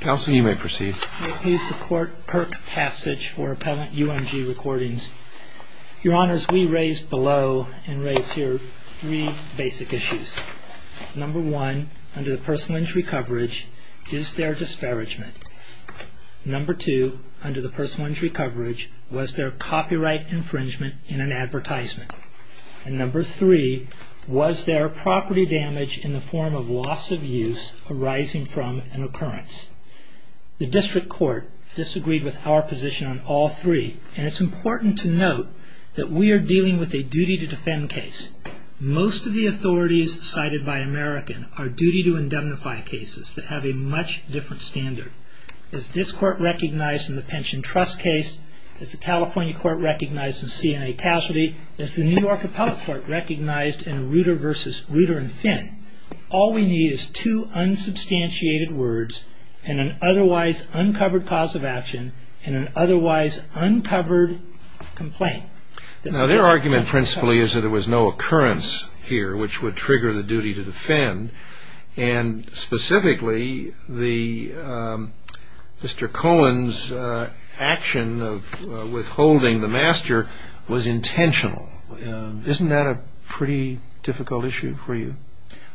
Counsel, you may proceed. May it please the Court, Kirk Passage for Appellant UMG Recordings. Your Honors, we raise below and raise here three basic issues. Number one, under the personal injury coverage, is there disparagement? Number two, under the personal injury coverage, was there copyright infringement in an advertisement? And number three, was there property damage in the form of loss of use arising from an occurrence? The District Court disagreed with our position on all three. And it's important to note that we are dealing with a duty-to-defend case. Most of the authorities cited by American are duty-to-indemnify cases that have a much different standard. Is this Court recognized in the pension trust case? Is the California Court recognized in CNA casualty? Is the New York Appellate Court recognized in Ruter v. Ruter and Finn? All we need is two unsubstantiated words and an otherwise uncovered cause of action and an otherwise uncovered complaint. Now, their argument, principally, is that there was no occurrence here which would trigger the duty-to-defend. And specifically, Mr. Cohen's action of withholding the master was intentional. Isn't that a pretty difficult issue for you?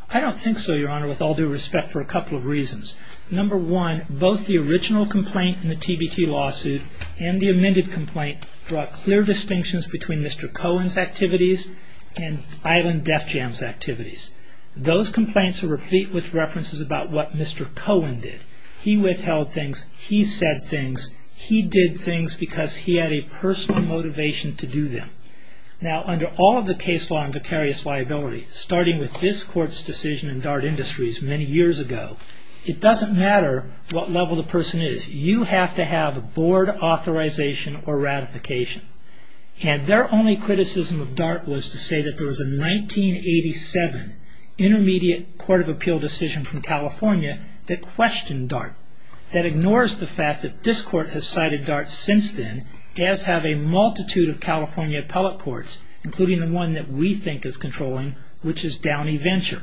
I don't think so, Your Honor, with all due respect, for a couple of reasons. Number one, both the original complaint in the TBT lawsuit and the amended complaint brought clear distinctions between Mr. Cohen's activities and Island Def Jam's activities. Those complaints are replete with references about what Mr. Cohen did. He withheld things. He said things. He did things because he had a personal motivation to do them. Now, under all of the case law in vicarious liability, starting with this Court's decision in Dart Industries many years ago, it doesn't matter what level the person is. You have to have a board authorization or ratification. And their only criticism of Dart was to say that there was a 1987 Intermediate Court of Appeal decision from California that questioned Dart, that ignores the fact that this Court has cited Dart since then, as have a multitude of California appellate courts, including the one that we think is controlling, which is Downey Venture.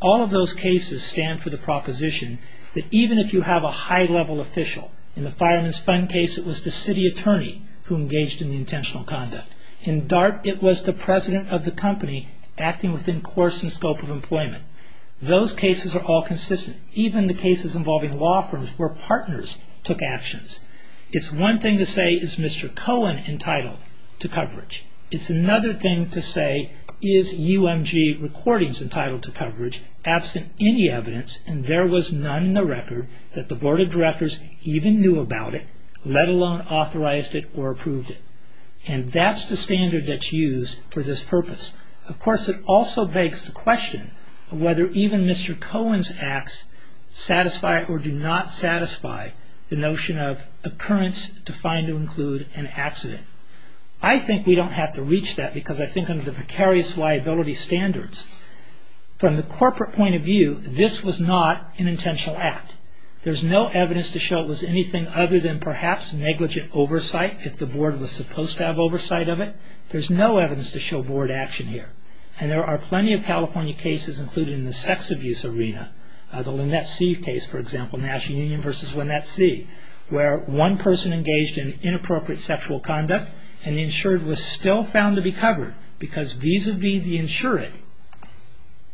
All of those cases stand for the proposition that even if you have a high-level official, in the Fireman's Fund case, it was the city attorney who engaged in the intentional conduct. In Dart, it was the president of the company acting within course and scope of employment. Those cases are all consistent, even the cases involving law firms where partners took actions. It's one thing to say, is Mr. Cohen entitled to coverage? It's another thing to say, is UMG Recordings entitled to coverage, absent any evidence, and there was none in the record that the board of directors even knew about it, let alone authorized it or approved it. And that's the standard that's used for this purpose. Of course, it also begs the question of whether even Mr. Cohen's acts satisfy or do not satisfy the notion of occurrence defined to include an accident. I think we don't have to reach that because I think under the precarious liability standards. From the corporate point of view, this was not an intentional act. There's no evidence to show it was anything other than perhaps negligent oversight, if the board was supposed to have oversight of it. There's no evidence to show board action here. And there are plenty of California cases, including the sex abuse arena, the Lynette See case, for example, National Union versus Lynette See, where one person engaged in inappropriate sexual conduct and the insured was still found to be covered because vis-a-vis the insured,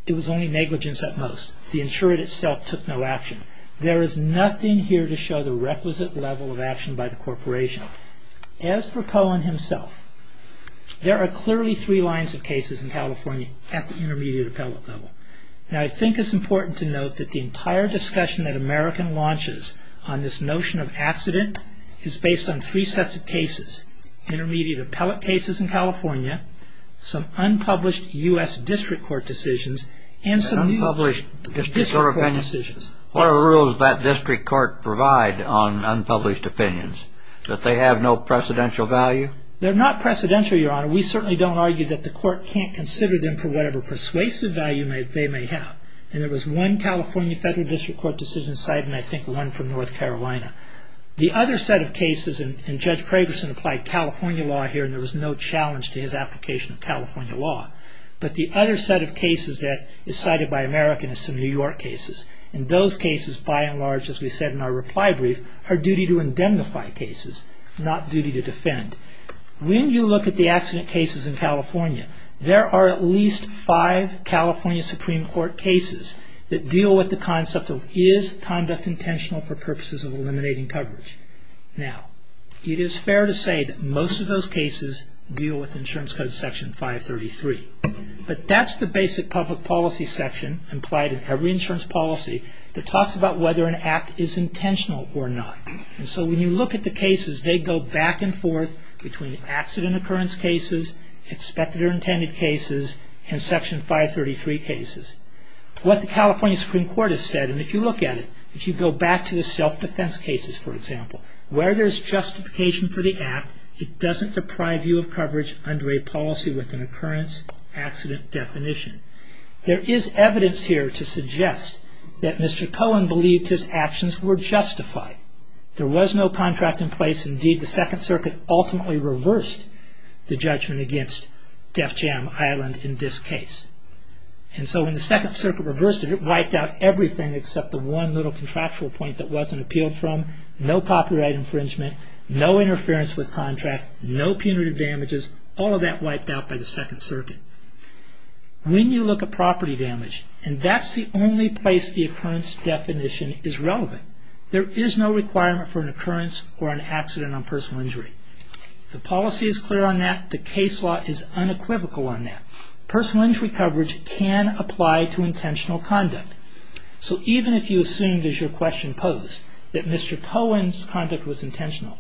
it was only negligence at most. The insured itself took no action. There is nothing here to show the requisite level of action by the corporation. As for Cohen himself, there are clearly three lines of cases in California at the intermediate appellate level. And I think it's important to note that the entire discussion that American launches on this notion of accident is based on three sets of cases. Intermediate appellate cases in California, some unpublished U.S. district court decisions, and some new district court decisions. What are the rules that district court provide on unpublished opinions? That they have no precedential value? They're not precedential, Your Honor. We certainly don't argue that the court can't consider them for whatever persuasive value they may have. And there was one California federal district court decision cited, and I think one from North Carolina. The other set of cases, and Judge Pragerson applied California law here, and there was no challenge to his application of California law. But the other set of cases that is cited by American is some New York cases. And those cases, by and large, as we said in our reply brief, are duty to indemnify cases, not duty to defend. When you look at the accident cases in California, there are at least five California Supreme Court cases that deal with the concept of is conduct intentional for purposes of eliminating coverage. Now, it is fair to say that most of those cases deal with Insurance Code Section 533. But that's the basic public policy section implied in every insurance policy that talks about whether an act is intentional or not. And so when you look at the cases, they go back and forth between accident occurrence cases, expected or intended cases, and Section 533 cases. What the California Supreme Court has said, and if you look at it, if you go back to the self-defense cases, for example, where there's justification for the act, it doesn't deprive you of coverage under a policy with an occurrence accident definition. There is evidence here to suggest that Mr. Cohen believed his actions were justified. There was no contract in place. Indeed, the Second Circuit ultimately reversed the judgment against Def Jam Island in this case. And so when the Second Circuit reversed it, it wiped out everything except the one little contractual point that wasn't appealed from, no copyright infringement, no interference with contract, no punitive damages, all of that wiped out by the Second Circuit. When you look at property damage, and that's the only place the occurrence definition is relevant, there is no requirement for an occurrence or an accident on personal injury. The policy is clear on that. The case law is unequivocal on that. Personal injury coverage can apply to intentional conduct. So even if you assumed, as your question posed, that Mr. Cohen's conduct was intentional,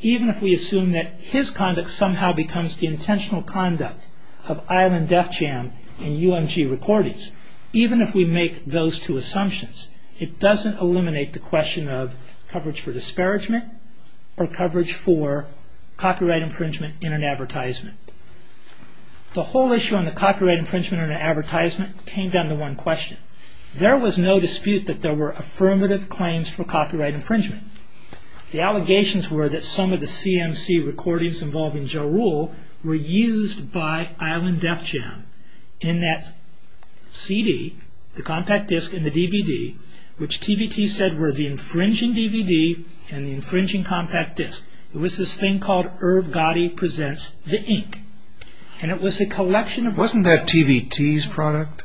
even if we assume that his conduct somehow becomes the intentional conduct of Island Def Jam and UMG Recordings, even if we make those two assumptions, it doesn't eliminate the question of coverage for disparagement or coverage for copyright infringement in an advertisement. The whole issue on the copyright infringement in an advertisement came down to one question. There was no dispute that there were affirmative claims for copyright infringement. The allegations were that some of the CMC recordings involving Joe Rule were used by Island Def Jam in that CD, the compact disc, and the DVD, which TBT said were the infringing DVD and the infringing compact disc. It was this thing called Irv Gotti Presents the Ink. And it was a collection of... Wasn't that TBT's product?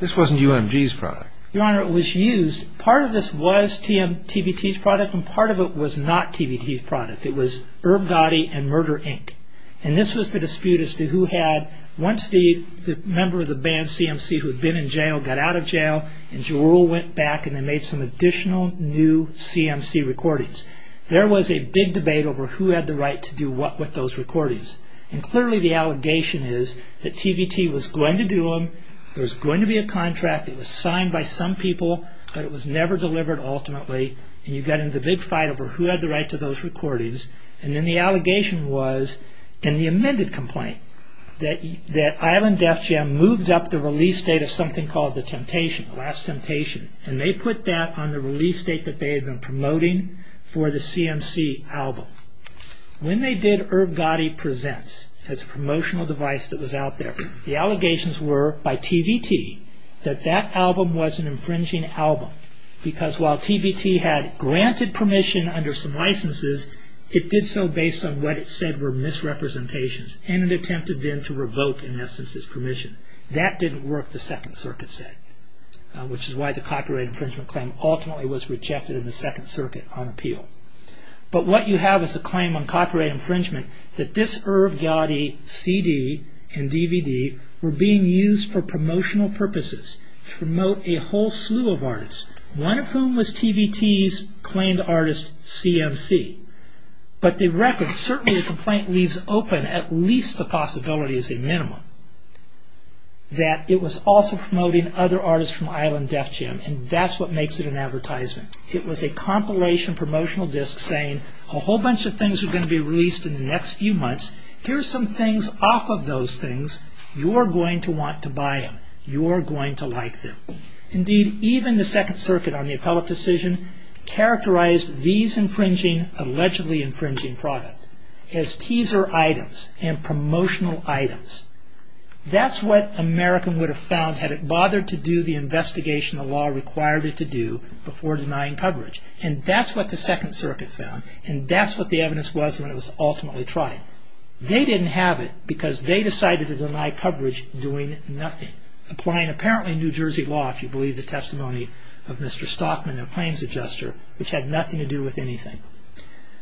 This wasn't UMG's product. Your Honor, it was used. Part of this was TBT's product and part of it was not TBT's product. It was Irv Gotti and Murder Ink. And this was the dispute as to who had... Once the member of the band CMC who had been in jail got out of jail and Joe Rule went back and they made some additional new CMC recordings, there was a big debate over who had the right to do what with those recordings. And clearly the allegation is that TBT was going to do them, there was going to be a contract, it was signed by some people, but it was never delivered ultimately, and you got into a big fight over who had the right to those recordings. And then the allegation was in the amended complaint that Island Def Jam moved up the release date of something called The Temptation, The Last Temptation, and they put that on the release date that they had been promoting for the CMC album. When they did Irv Gotti Presents as a promotional device that was out there, the allegations were by TBT that that album was an infringing album because while TBT had granted permission under some licenses, it did so based on what it said were misrepresentations and it attempted then to revoke, in essence, its permission. That didn't work, the Second Circuit said, which is why the copyright infringement claim ultimately was rejected in the Second Circuit on appeal. But what you have is a claim on copyright infringement that this Irv Gotti CD and DVD were being used for promotional purposes to promote a whole slew of artists, one of whom was TBT's claimed artist CMC. But the record, certainly the complaint leaves open at least the possibility as a minimum that it was also promoting other artists from Island Def Jam and that's what makes it an advertisement. It was a compilation promotional disc saying a whole bunch of things are going to be released in the next few months, here's some things off of those things, you're going to want to buy them, you're going to like them. Indeed, even the Second Circuit on the appellate decision characterized these infringing, allegedly infringing product as teaser items and promotional items. That's what American would have found had it bothered to do the investigation the law required it to do before denying coverage. And that's what the Second Circuit found and that's what the evidence was when it was ultimately tried. They didn't have it because they decided to deny coverage doing nothing, applying apparently New Jersey law, if you believe the testimony of Mr. Stockman, their claims adjuster, which had nothing to do with anything.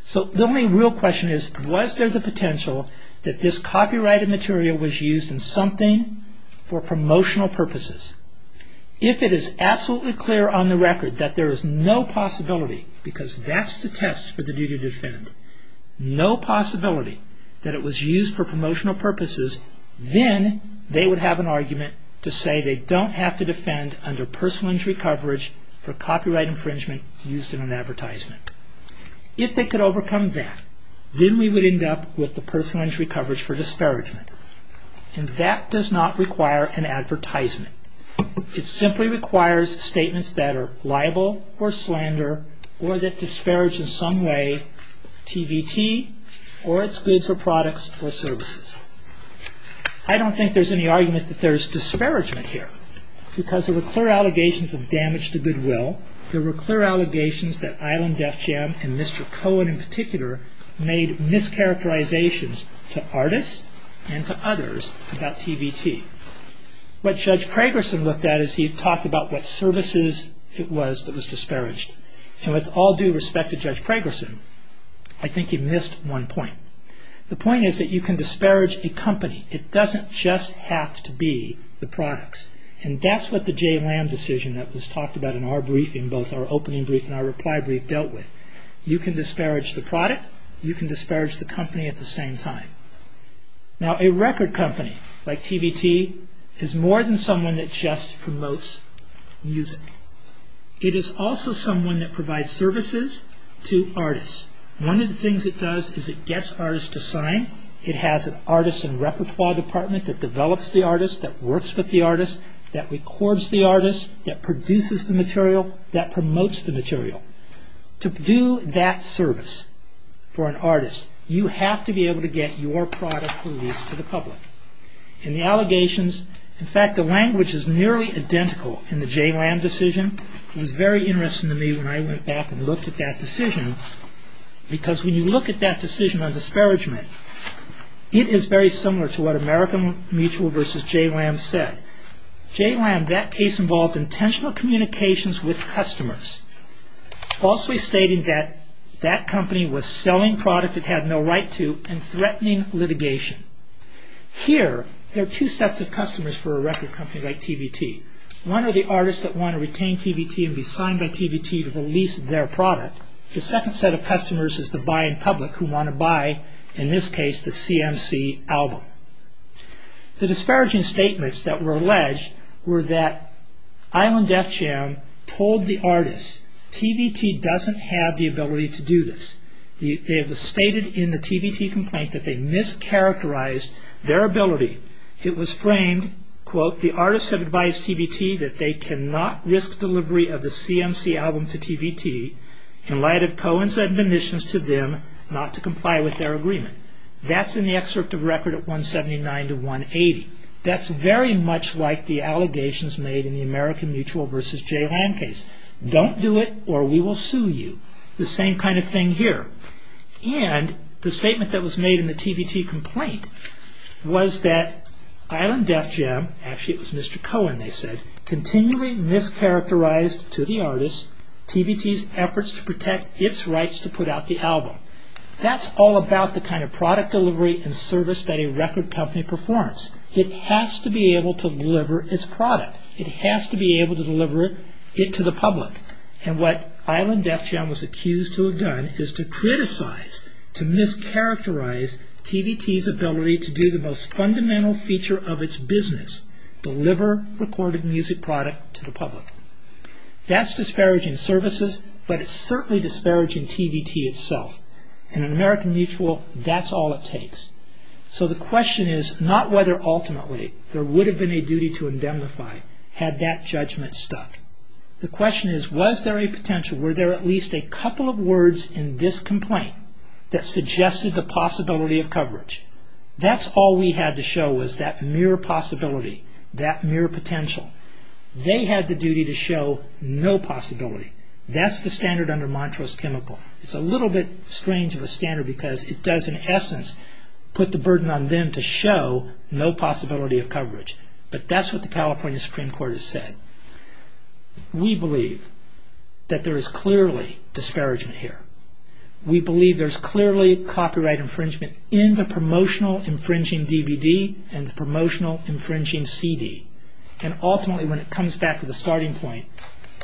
So the only real question is, was there the potential that this copyrighted material was used in something for promotional purposes? If it is absolutely clear on the record that there is no possibility because that's the test for the duty to defend, no possibility that it was used for promotional purposes, then they would have an argument to say they don't have to defend under personal injury coverage for copyright infringement used in an advertisement. If they could overcome that, then we would end up with the personal injury coverage for disparagement. And that does not require an advertisement. It simply requires statements that are liable or slander or that disparage in some way TVT or its goods or products or services. I don't think there's any argument that there's disparagement here because there were clear allegations of damage to goodwill. There were clear allegations that Island Def Jam and Mr. Cohen in particular made mischaracterizations to artists and to others about TVT. What Judge Pragerson looked at is he talked about what services it was that was disparaged. And with all due respect to Judge Pragerson, I think he missed one point. The point is that you can disparage a company. It doesn't just have to be the products. And that's what the J. Lamb decision that was talked about in our briefing, both our opening brief and our reply brief, dealt with. You can disparage the product. You can disparage the company at the same time. Now, a record company like TVT is more than someone that just promotes music. It is also someone that provides services to artists. One of the things it does is it gets artists to sign. It has an artist and repertoire department that develops the artist, that works with the artist, that records the artist, that produces the material, that promotes the material. To do that service for an artist, you have to be able to get your product released to the public. In the allegations, in fact, the language is nearly identical in the J. Lamb decision. It was very interesting to me when I went back and looked at that decision because when you look at that decision on disparagement, it is very similar to what American Mutual versus J. Lamb said. J. Lamb, that case involved intentional communications with customers, falsely stating that that company was selling product it had no right to and threatening litigation. Here, there are two sets of customers for a record company like TVT. One are the artists that want to retain TVT and be signed by TVT to release their product. The second set of customers is the buying public who want to buy, in this case, the CMC album. The disparaging statements that were alleged were that Island Def Jam told the artists, TVT doesn't have the ability to do this. It was stated in the TVT complaint that they mischaracterized their ability. It was framed, quote, the artists have advised TVT that they cannot risk delivery of the CMC album to TVT in light of co-incident admissions to them not to comply with their agreement. That's in the excerpt of record at 179 to 180. That's very much like the allegations made in the American Mutual versus J. Lamb case. Don't do it or we will sue you. The same kind of thing here. And the statement that was made in the TVT complaint was that Island Def Jam, actually it was Mr. Cohen they said, continually mischaracterized to the artists, TVT's efforts to protect its rights to put out the album. That's all about the kind of product delivery and service that a record company performs. It has to be able to deliver its product. It has to be able to deliver it to the public. And what Island Def Jam was accused to have done is to criticize, to mischaracterize TVT's ability to do the most fundamental feature of its business, deliver recorded music product to the public. That's disparaging services, but it's certainly disparaging TVT itself. In an American Mutual, that's all it takes. So the question is not whether ultimately there would have been a duty to indemnify had that judgment stuck. The question is was there a potential, were there at least a couple of words in this complaint that suggested the possibility of coverage. That's all we had to show was that mere possibility, that mere potential. They had the duty to show no possibility. That's the standard under Montrose Chemical. It's a little bit strange of a standard because it does in essence put the burden on them to show no possibility of coverage. But that's what the California Supreme Court has said. We believe that there is clearly disparagement here. We believe there's clearly copyright infringement in the promotional infringing DVD and the promotional infringing CD. And ultimately when it comes back to the starting point,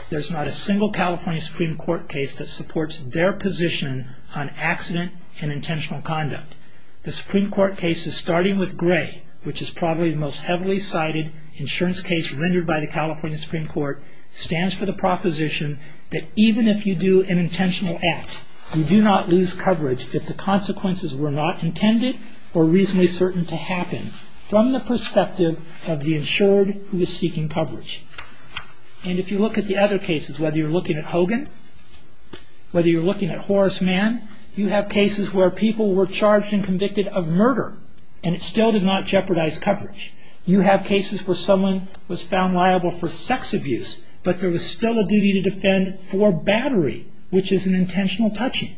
there's not a single California Supreme Court case that supports their position on accident and intentional conduct. The Supreme Court case is starting with Gray, which is probably the most heavily cited insurance case rendered by the California Supreme Court, stands for the proposition that even if you do an intentional act, you do not lose coverage if the consequences were not intended or reasonably certain to happen. From the perspective of the insured who is seeking coverage. And if you look at the other cases, whether you're looking at Hogan, whether you're looking at Horace Mann, you have cases where people were charged and convicted of murder and it still did not jeopardize coverage. You have cases where someone was found liable for sex abuse, but there was still a duty to defend for battery, which is an intentional touching.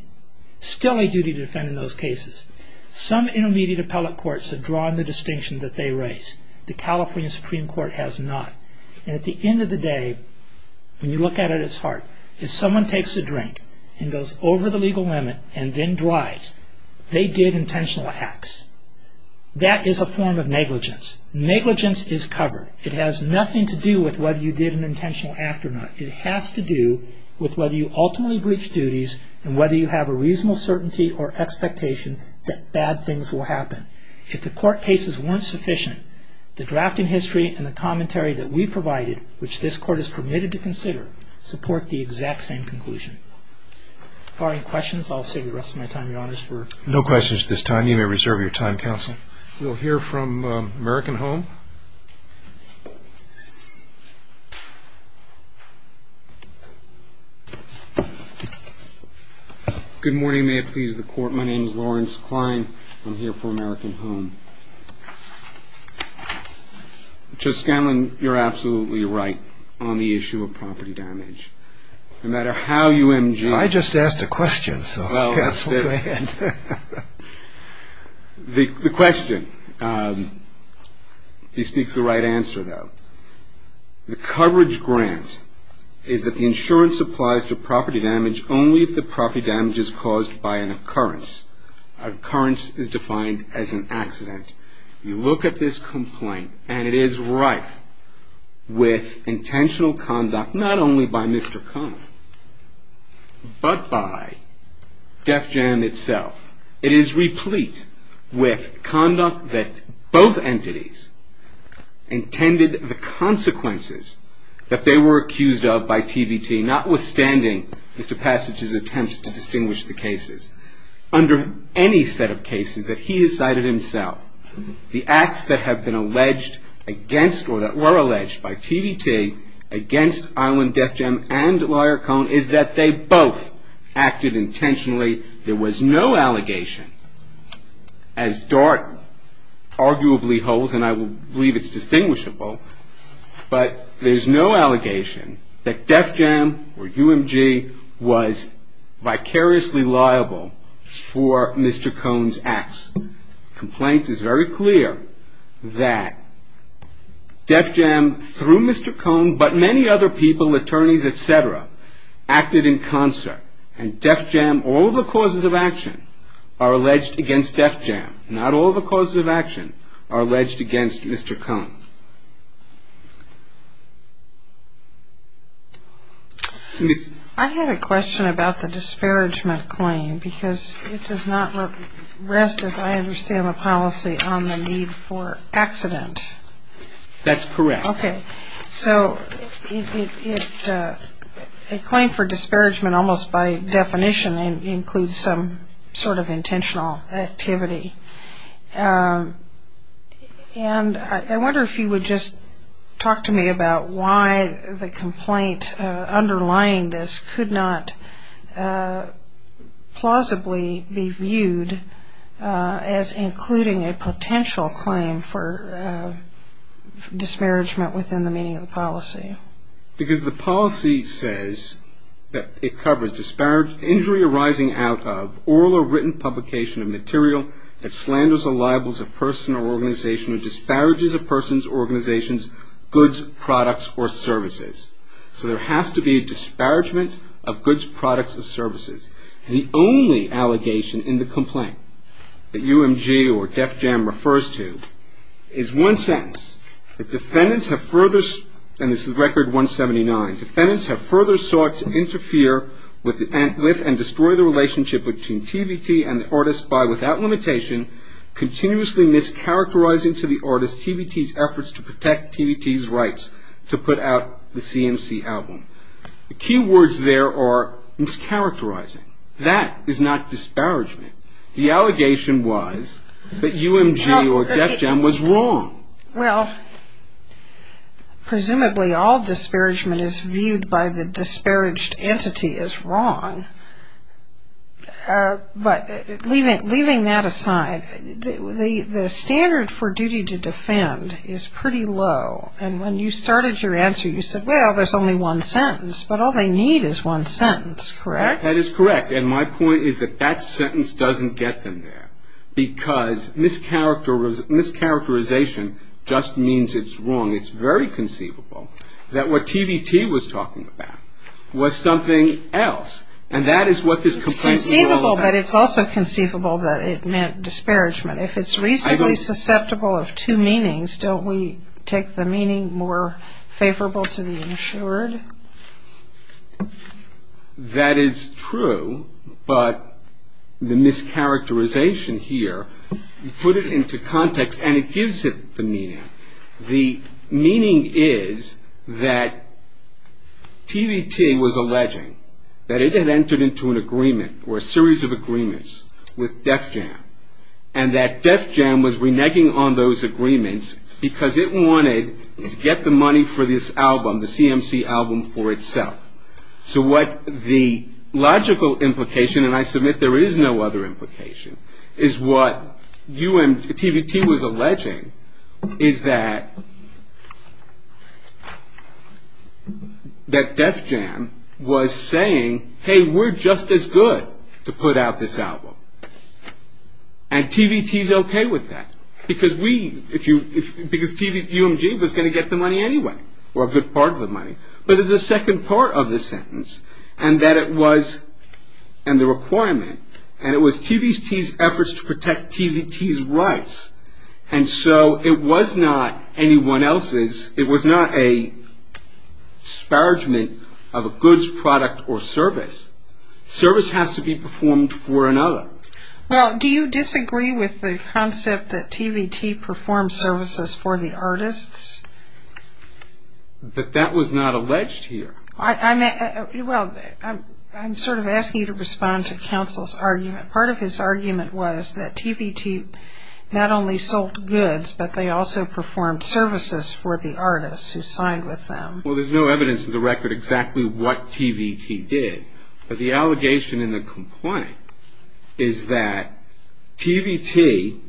Still a duty to defend in those cases. Some intermediate appellate courts have drawn the distinction that they raise. The California Supreme Court has not. And at the end of the day, when you look at it at its heart, if someone takes a drink and goes over the legal limit and then drives, they did intentional acts. That is a form of negligence. Negligence is covered. It has nothing to do with whether you did an intentional act or not. It has to do with whether you ultimately breached duties and whether you have a reasonable certainty or expectation that bad things will happen. If the court cases weren't sufficient, the draft in history and the commentary that we provided, which this court is permitted to consider, support the exact same conclusion. Are there any questions? I'll save the rest of my time, Your Honors. No questions at this time. You may reserve your time, Counsel. We'll hear from American Home. Good morning. May it please the Court. My name is Lawrence Klein. I'm here for American Home. Judge Scanlon, you're absolutely right on the issue of property damage. No matter how you M.G. I just asked a question, so perhaps we'll go ahead. The question. He speaks the right answer, though. The coverage grant is that the insurance applies to property damage only if the property damage is caused by an occurrence. Occurrence is defined as an accident. You look at this complaint, and it is rife with intentional conduct, not only by Mr. Kahn, but by Def Jam itself. It is replete with conduct that both entities intended the consequences that they were accused of by TBT, notwithstanding Mr. Passage's attempt to distinguish the cases. Under any set of cases that he has cited himself, the acts that have been alleged against or that were alleged by TBT against Island Def Jam and Lawyer Cohn is that they both acted intentionally. There was no allegation, as Dart arguably holds, and I believe it's distinguishable, but there's no allegation that Def Jam or UMG was vicariously liable for Mr. Cohn's acts. The complaint is very clear that Def Jam, through Mr. Cohn, but many other people, attorneys, et cetera, acted in concert, and Def Jam, all the causes of action are alleged against Def Jam. Not all the causes of action are alleged against Mr. Cohn. I had a question about the disparagement claim because it does not rest, as I understand the policy, on the need for accident. That's correct. Okay, so a claim for disparagement almost by definition includes some sort of intentional activity, and I wonder if you would just talk to me about why the complaint underlying this could not plausibly be viewed as including a potential claim for disparagement within the meaning of the policy. Why? Because the policy says that it covers injury arising out of oral or written publication of material that slanders or libels a person or organization or disparages a person's organization's goods, products, or services. So there has to be a disparagement of goods, products, or services. The only allegation in the complaint that UMG or Def Jam refers to is one sentence, that defendants have further, and this is Record 179, defendants have further sought to interfere with and destroy the relationship between TVT and the artist by without limitation continuously mischaracterizing to the artist TVT's efforts to protect TVT's rights to put out the CMC album. The key words there are mischaracterizing. That is not disparagement. The allegation was that UMG or Def Jam was wrong. Well, presumably all disparagement is viewed by the disparaged entity as wrong. But leaving that aside, the standard for duty to defend is pretty low, and when you started your answer you said, well, there's only one sentence, but all they need is one sentence, correct? That is correct, and my point is that that sentence doesn't get them there because mischaracterization just means it's wrong. It's very conceivable that what TVT was talking about was something else, and that is what this complaint is all about. It's conceivable, but it's also conceivable that it meant disparagement. If it's reasonably susceptible of two meanings, that is true, but the mischaracterization here, put it into context, and it gives it the meaning. The meaning is that TVT was alleging that it had entered into an agreement or a series of agreements with Def Jam, and that Def Jam was reneging on those agreements because it wanted to get the money for this album, the CMC album for itself. So what the logical implication, and I submit there is no other implication, is what TVT was alleging is that Def Jam was saying, hey, we're just as good to put out this album, and TVT is okay with that because UMG was going to get the money anyway, or a good part of the money. But there's a second part of this sentence, and that it was, and the requirement, and it was TVT's efforts to protect TVT's rights, and so it was not anyone else's. It was not a disparagement of a goods, product, or service. Service has to be performed for another. Well, do you disagree with the concept that TVT performed services for the artists? That that was not alleged here. Well, I'm sort of asking you to respond to counsel's argument. Part of his argument was that TVT not only sold goods, but they also performed services for the artists who signed with them. Well, there's no evidence in the record exactly what TVT did, but the allegation in the complaint is that TVT,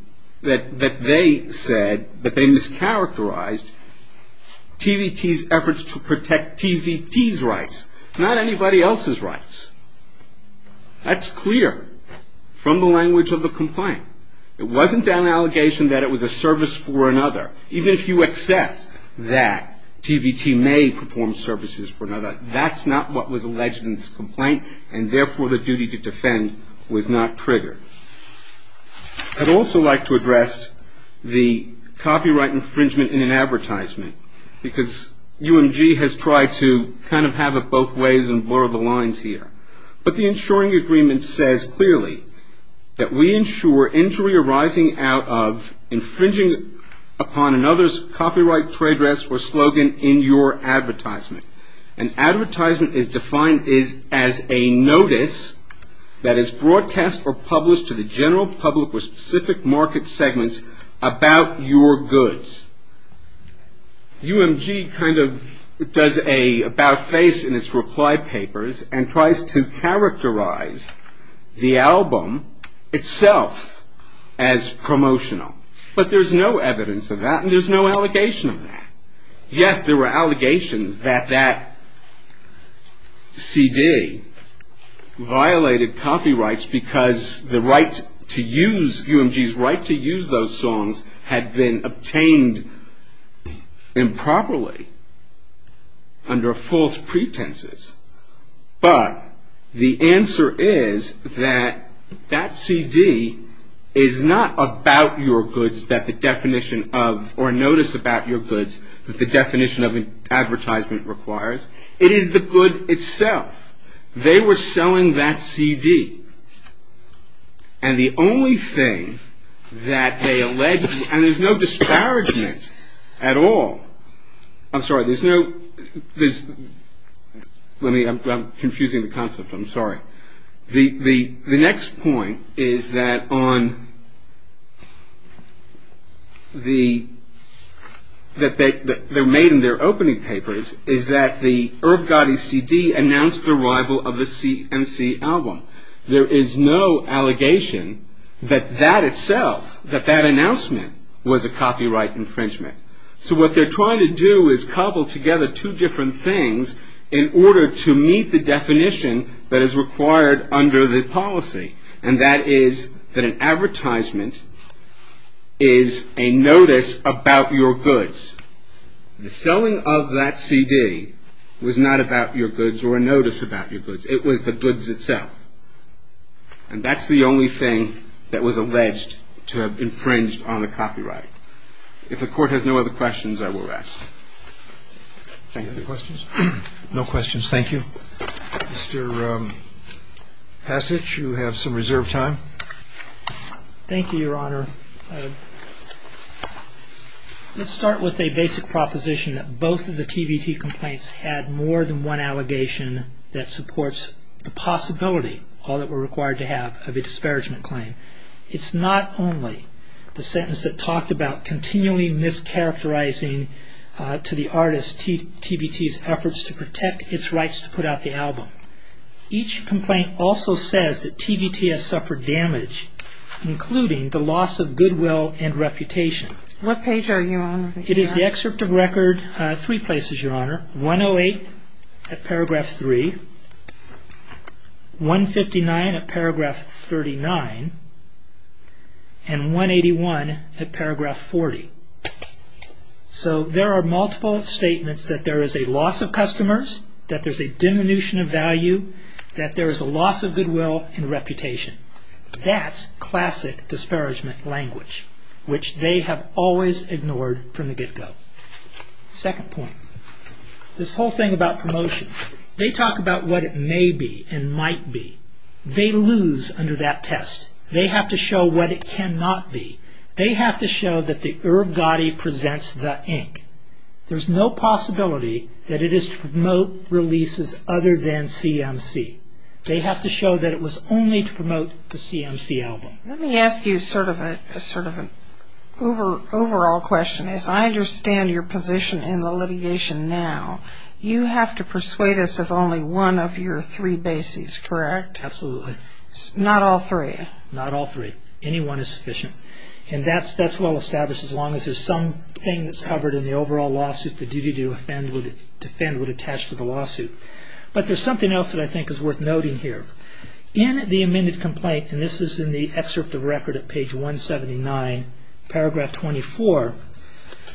that they said, that they mischaracterized TVT's efforts to protect TVT's rights, not anybody else's rights. That's clear from the language of the complaint. It wasn't an allegation that it was a service for another. Even if you accept that TVT may perform services for another, that's not what was alleged in this complaint, and therefore the duty to defend was not triggered. I'd also like to address the copyright infringement in an advertisement, because UMG has tried to kind of have it both ways and blur the lines here. But the insuring agreement says clearly that we insure injury arising out of infringing upon another's copyright trade address or slogan in your advertisement. An advertisement is defined as a notice that is broadcast or published to the general public or specific market segments about your goods. UMG kind of does an about face in its reply papers and tries to characterize the album itself as promotional. But there's no evidence of that, and there's no allegation of that. Yes, there were allegations that that CD violated copyrights because UMG's right to use those songs had been obtained improperly under false pretenses. But the answer is that that CD is not about your goods that the definition of advertisement requires. It is the good itself. They were selling that CD, and the only thing that they alleged, and there's no disparagement at all. I'm sorry, there's no, let me, I'm confusing the concept, I'm sorry. The next point is that on the, that they made in their opening papers, is that the Irv Gotti CD announced the arrival of the CMC album. There is no allegation that that itself, that that announcement, was a copyright infringement. So what they're trying to do is cobble together two different things in order to meet the definition that is required under the policy. And that is that an advertisement is a notice about your goods. The selling of that CD was not about your goods or a notice about your goods. It was the goods itself. And that's the only thing that was alleged to have infringed on the copyright. If the court has no other questions, I will rest. Thank you. Any other questions? No questions, thank you. Mr. Passage, you have some reserved time. Thank you, Your Honor. Let's start with a basic proposition that both of the TBT complaints had more than one allegation that supports the possibility, all that were required to have, of a disparagement claim. It's not only the sentence that talked about continually mischaracterizing to the artist TBT's efforts to protect its rights to put out the album. Each complaint also says that TBT has suffered damage, including the loss of goodwill and reputation. What page are you on? It is the excerpt of record, three places, Your Honor. 108 at paragraph 3, 159 at paragraph 39, and 181 at paragraph 40. So there are multiple statements that there is a loss of customers, that there's a diminution of value, that there is a loss of goodwill and reputation. That's classic disparagement language, which they have always ignored from the get-go. Second point, this whole thing about promotion. They talk about what it may be and might be. They lose under that test. They have to show what it cannot be. They have to show that the Irv Gotti presents the ink. There's no possibility that it is to promote releases other than CMC. They have to show that it was only to promote the CMC album. Let me ask you sort of an overall question. As I understand your position in the litigation now, you have to persuade us of only one of your three bases, correct? Absolutely. Not all three? Not all three. Any one is sufficient. And that's well established, as long as there's something that's covered in the overall lawsuit that duty to defend would attach to the lawsuit. But there's something else that I think is worth noting here. In the amended complaint, and this is in the excerpt of record at page 179, paragraph 24,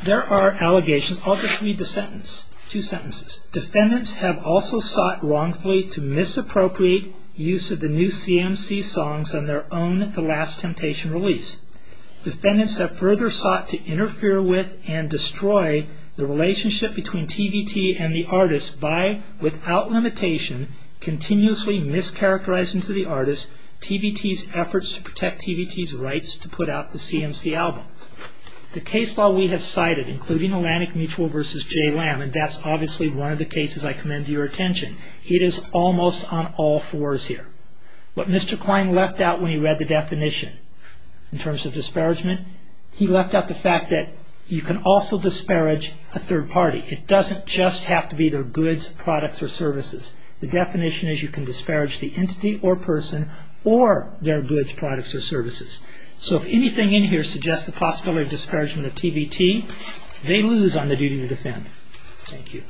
there are allegations. I'll just read the sentence, two sentences. Defendants have also sought wrongfully to misappropriate use of the new CMC songs on their own The Last Temptation release. Defendants have further sought to interfere with and destroy the relationship between TVT and the artist by, without limitation, continuously mischaracterizing to the artist TVT's efforts to protect TVT's rights to put out the CMC album. The case law we have cited, including Atlantic Mutual v. J. Lamb, and that's obviously one of the cases I commend to your attention. It is almost on all fours here. What Mr. Klein left out when he read the definition in terms of disparagement, he left out the fact that you can also disparage a third party. It doesn't just have to be their goods, products, or services. The definition is you can disparage the entity or person or their goods, products, or services. So if anything in here suggests the possibility of disparagement of TVT, they lose on the duty to defend. Thank you.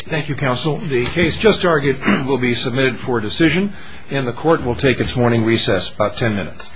Thank you, counsel. The case just argued will be submitted for decision, and the court will take its morning recess, about ten minutes.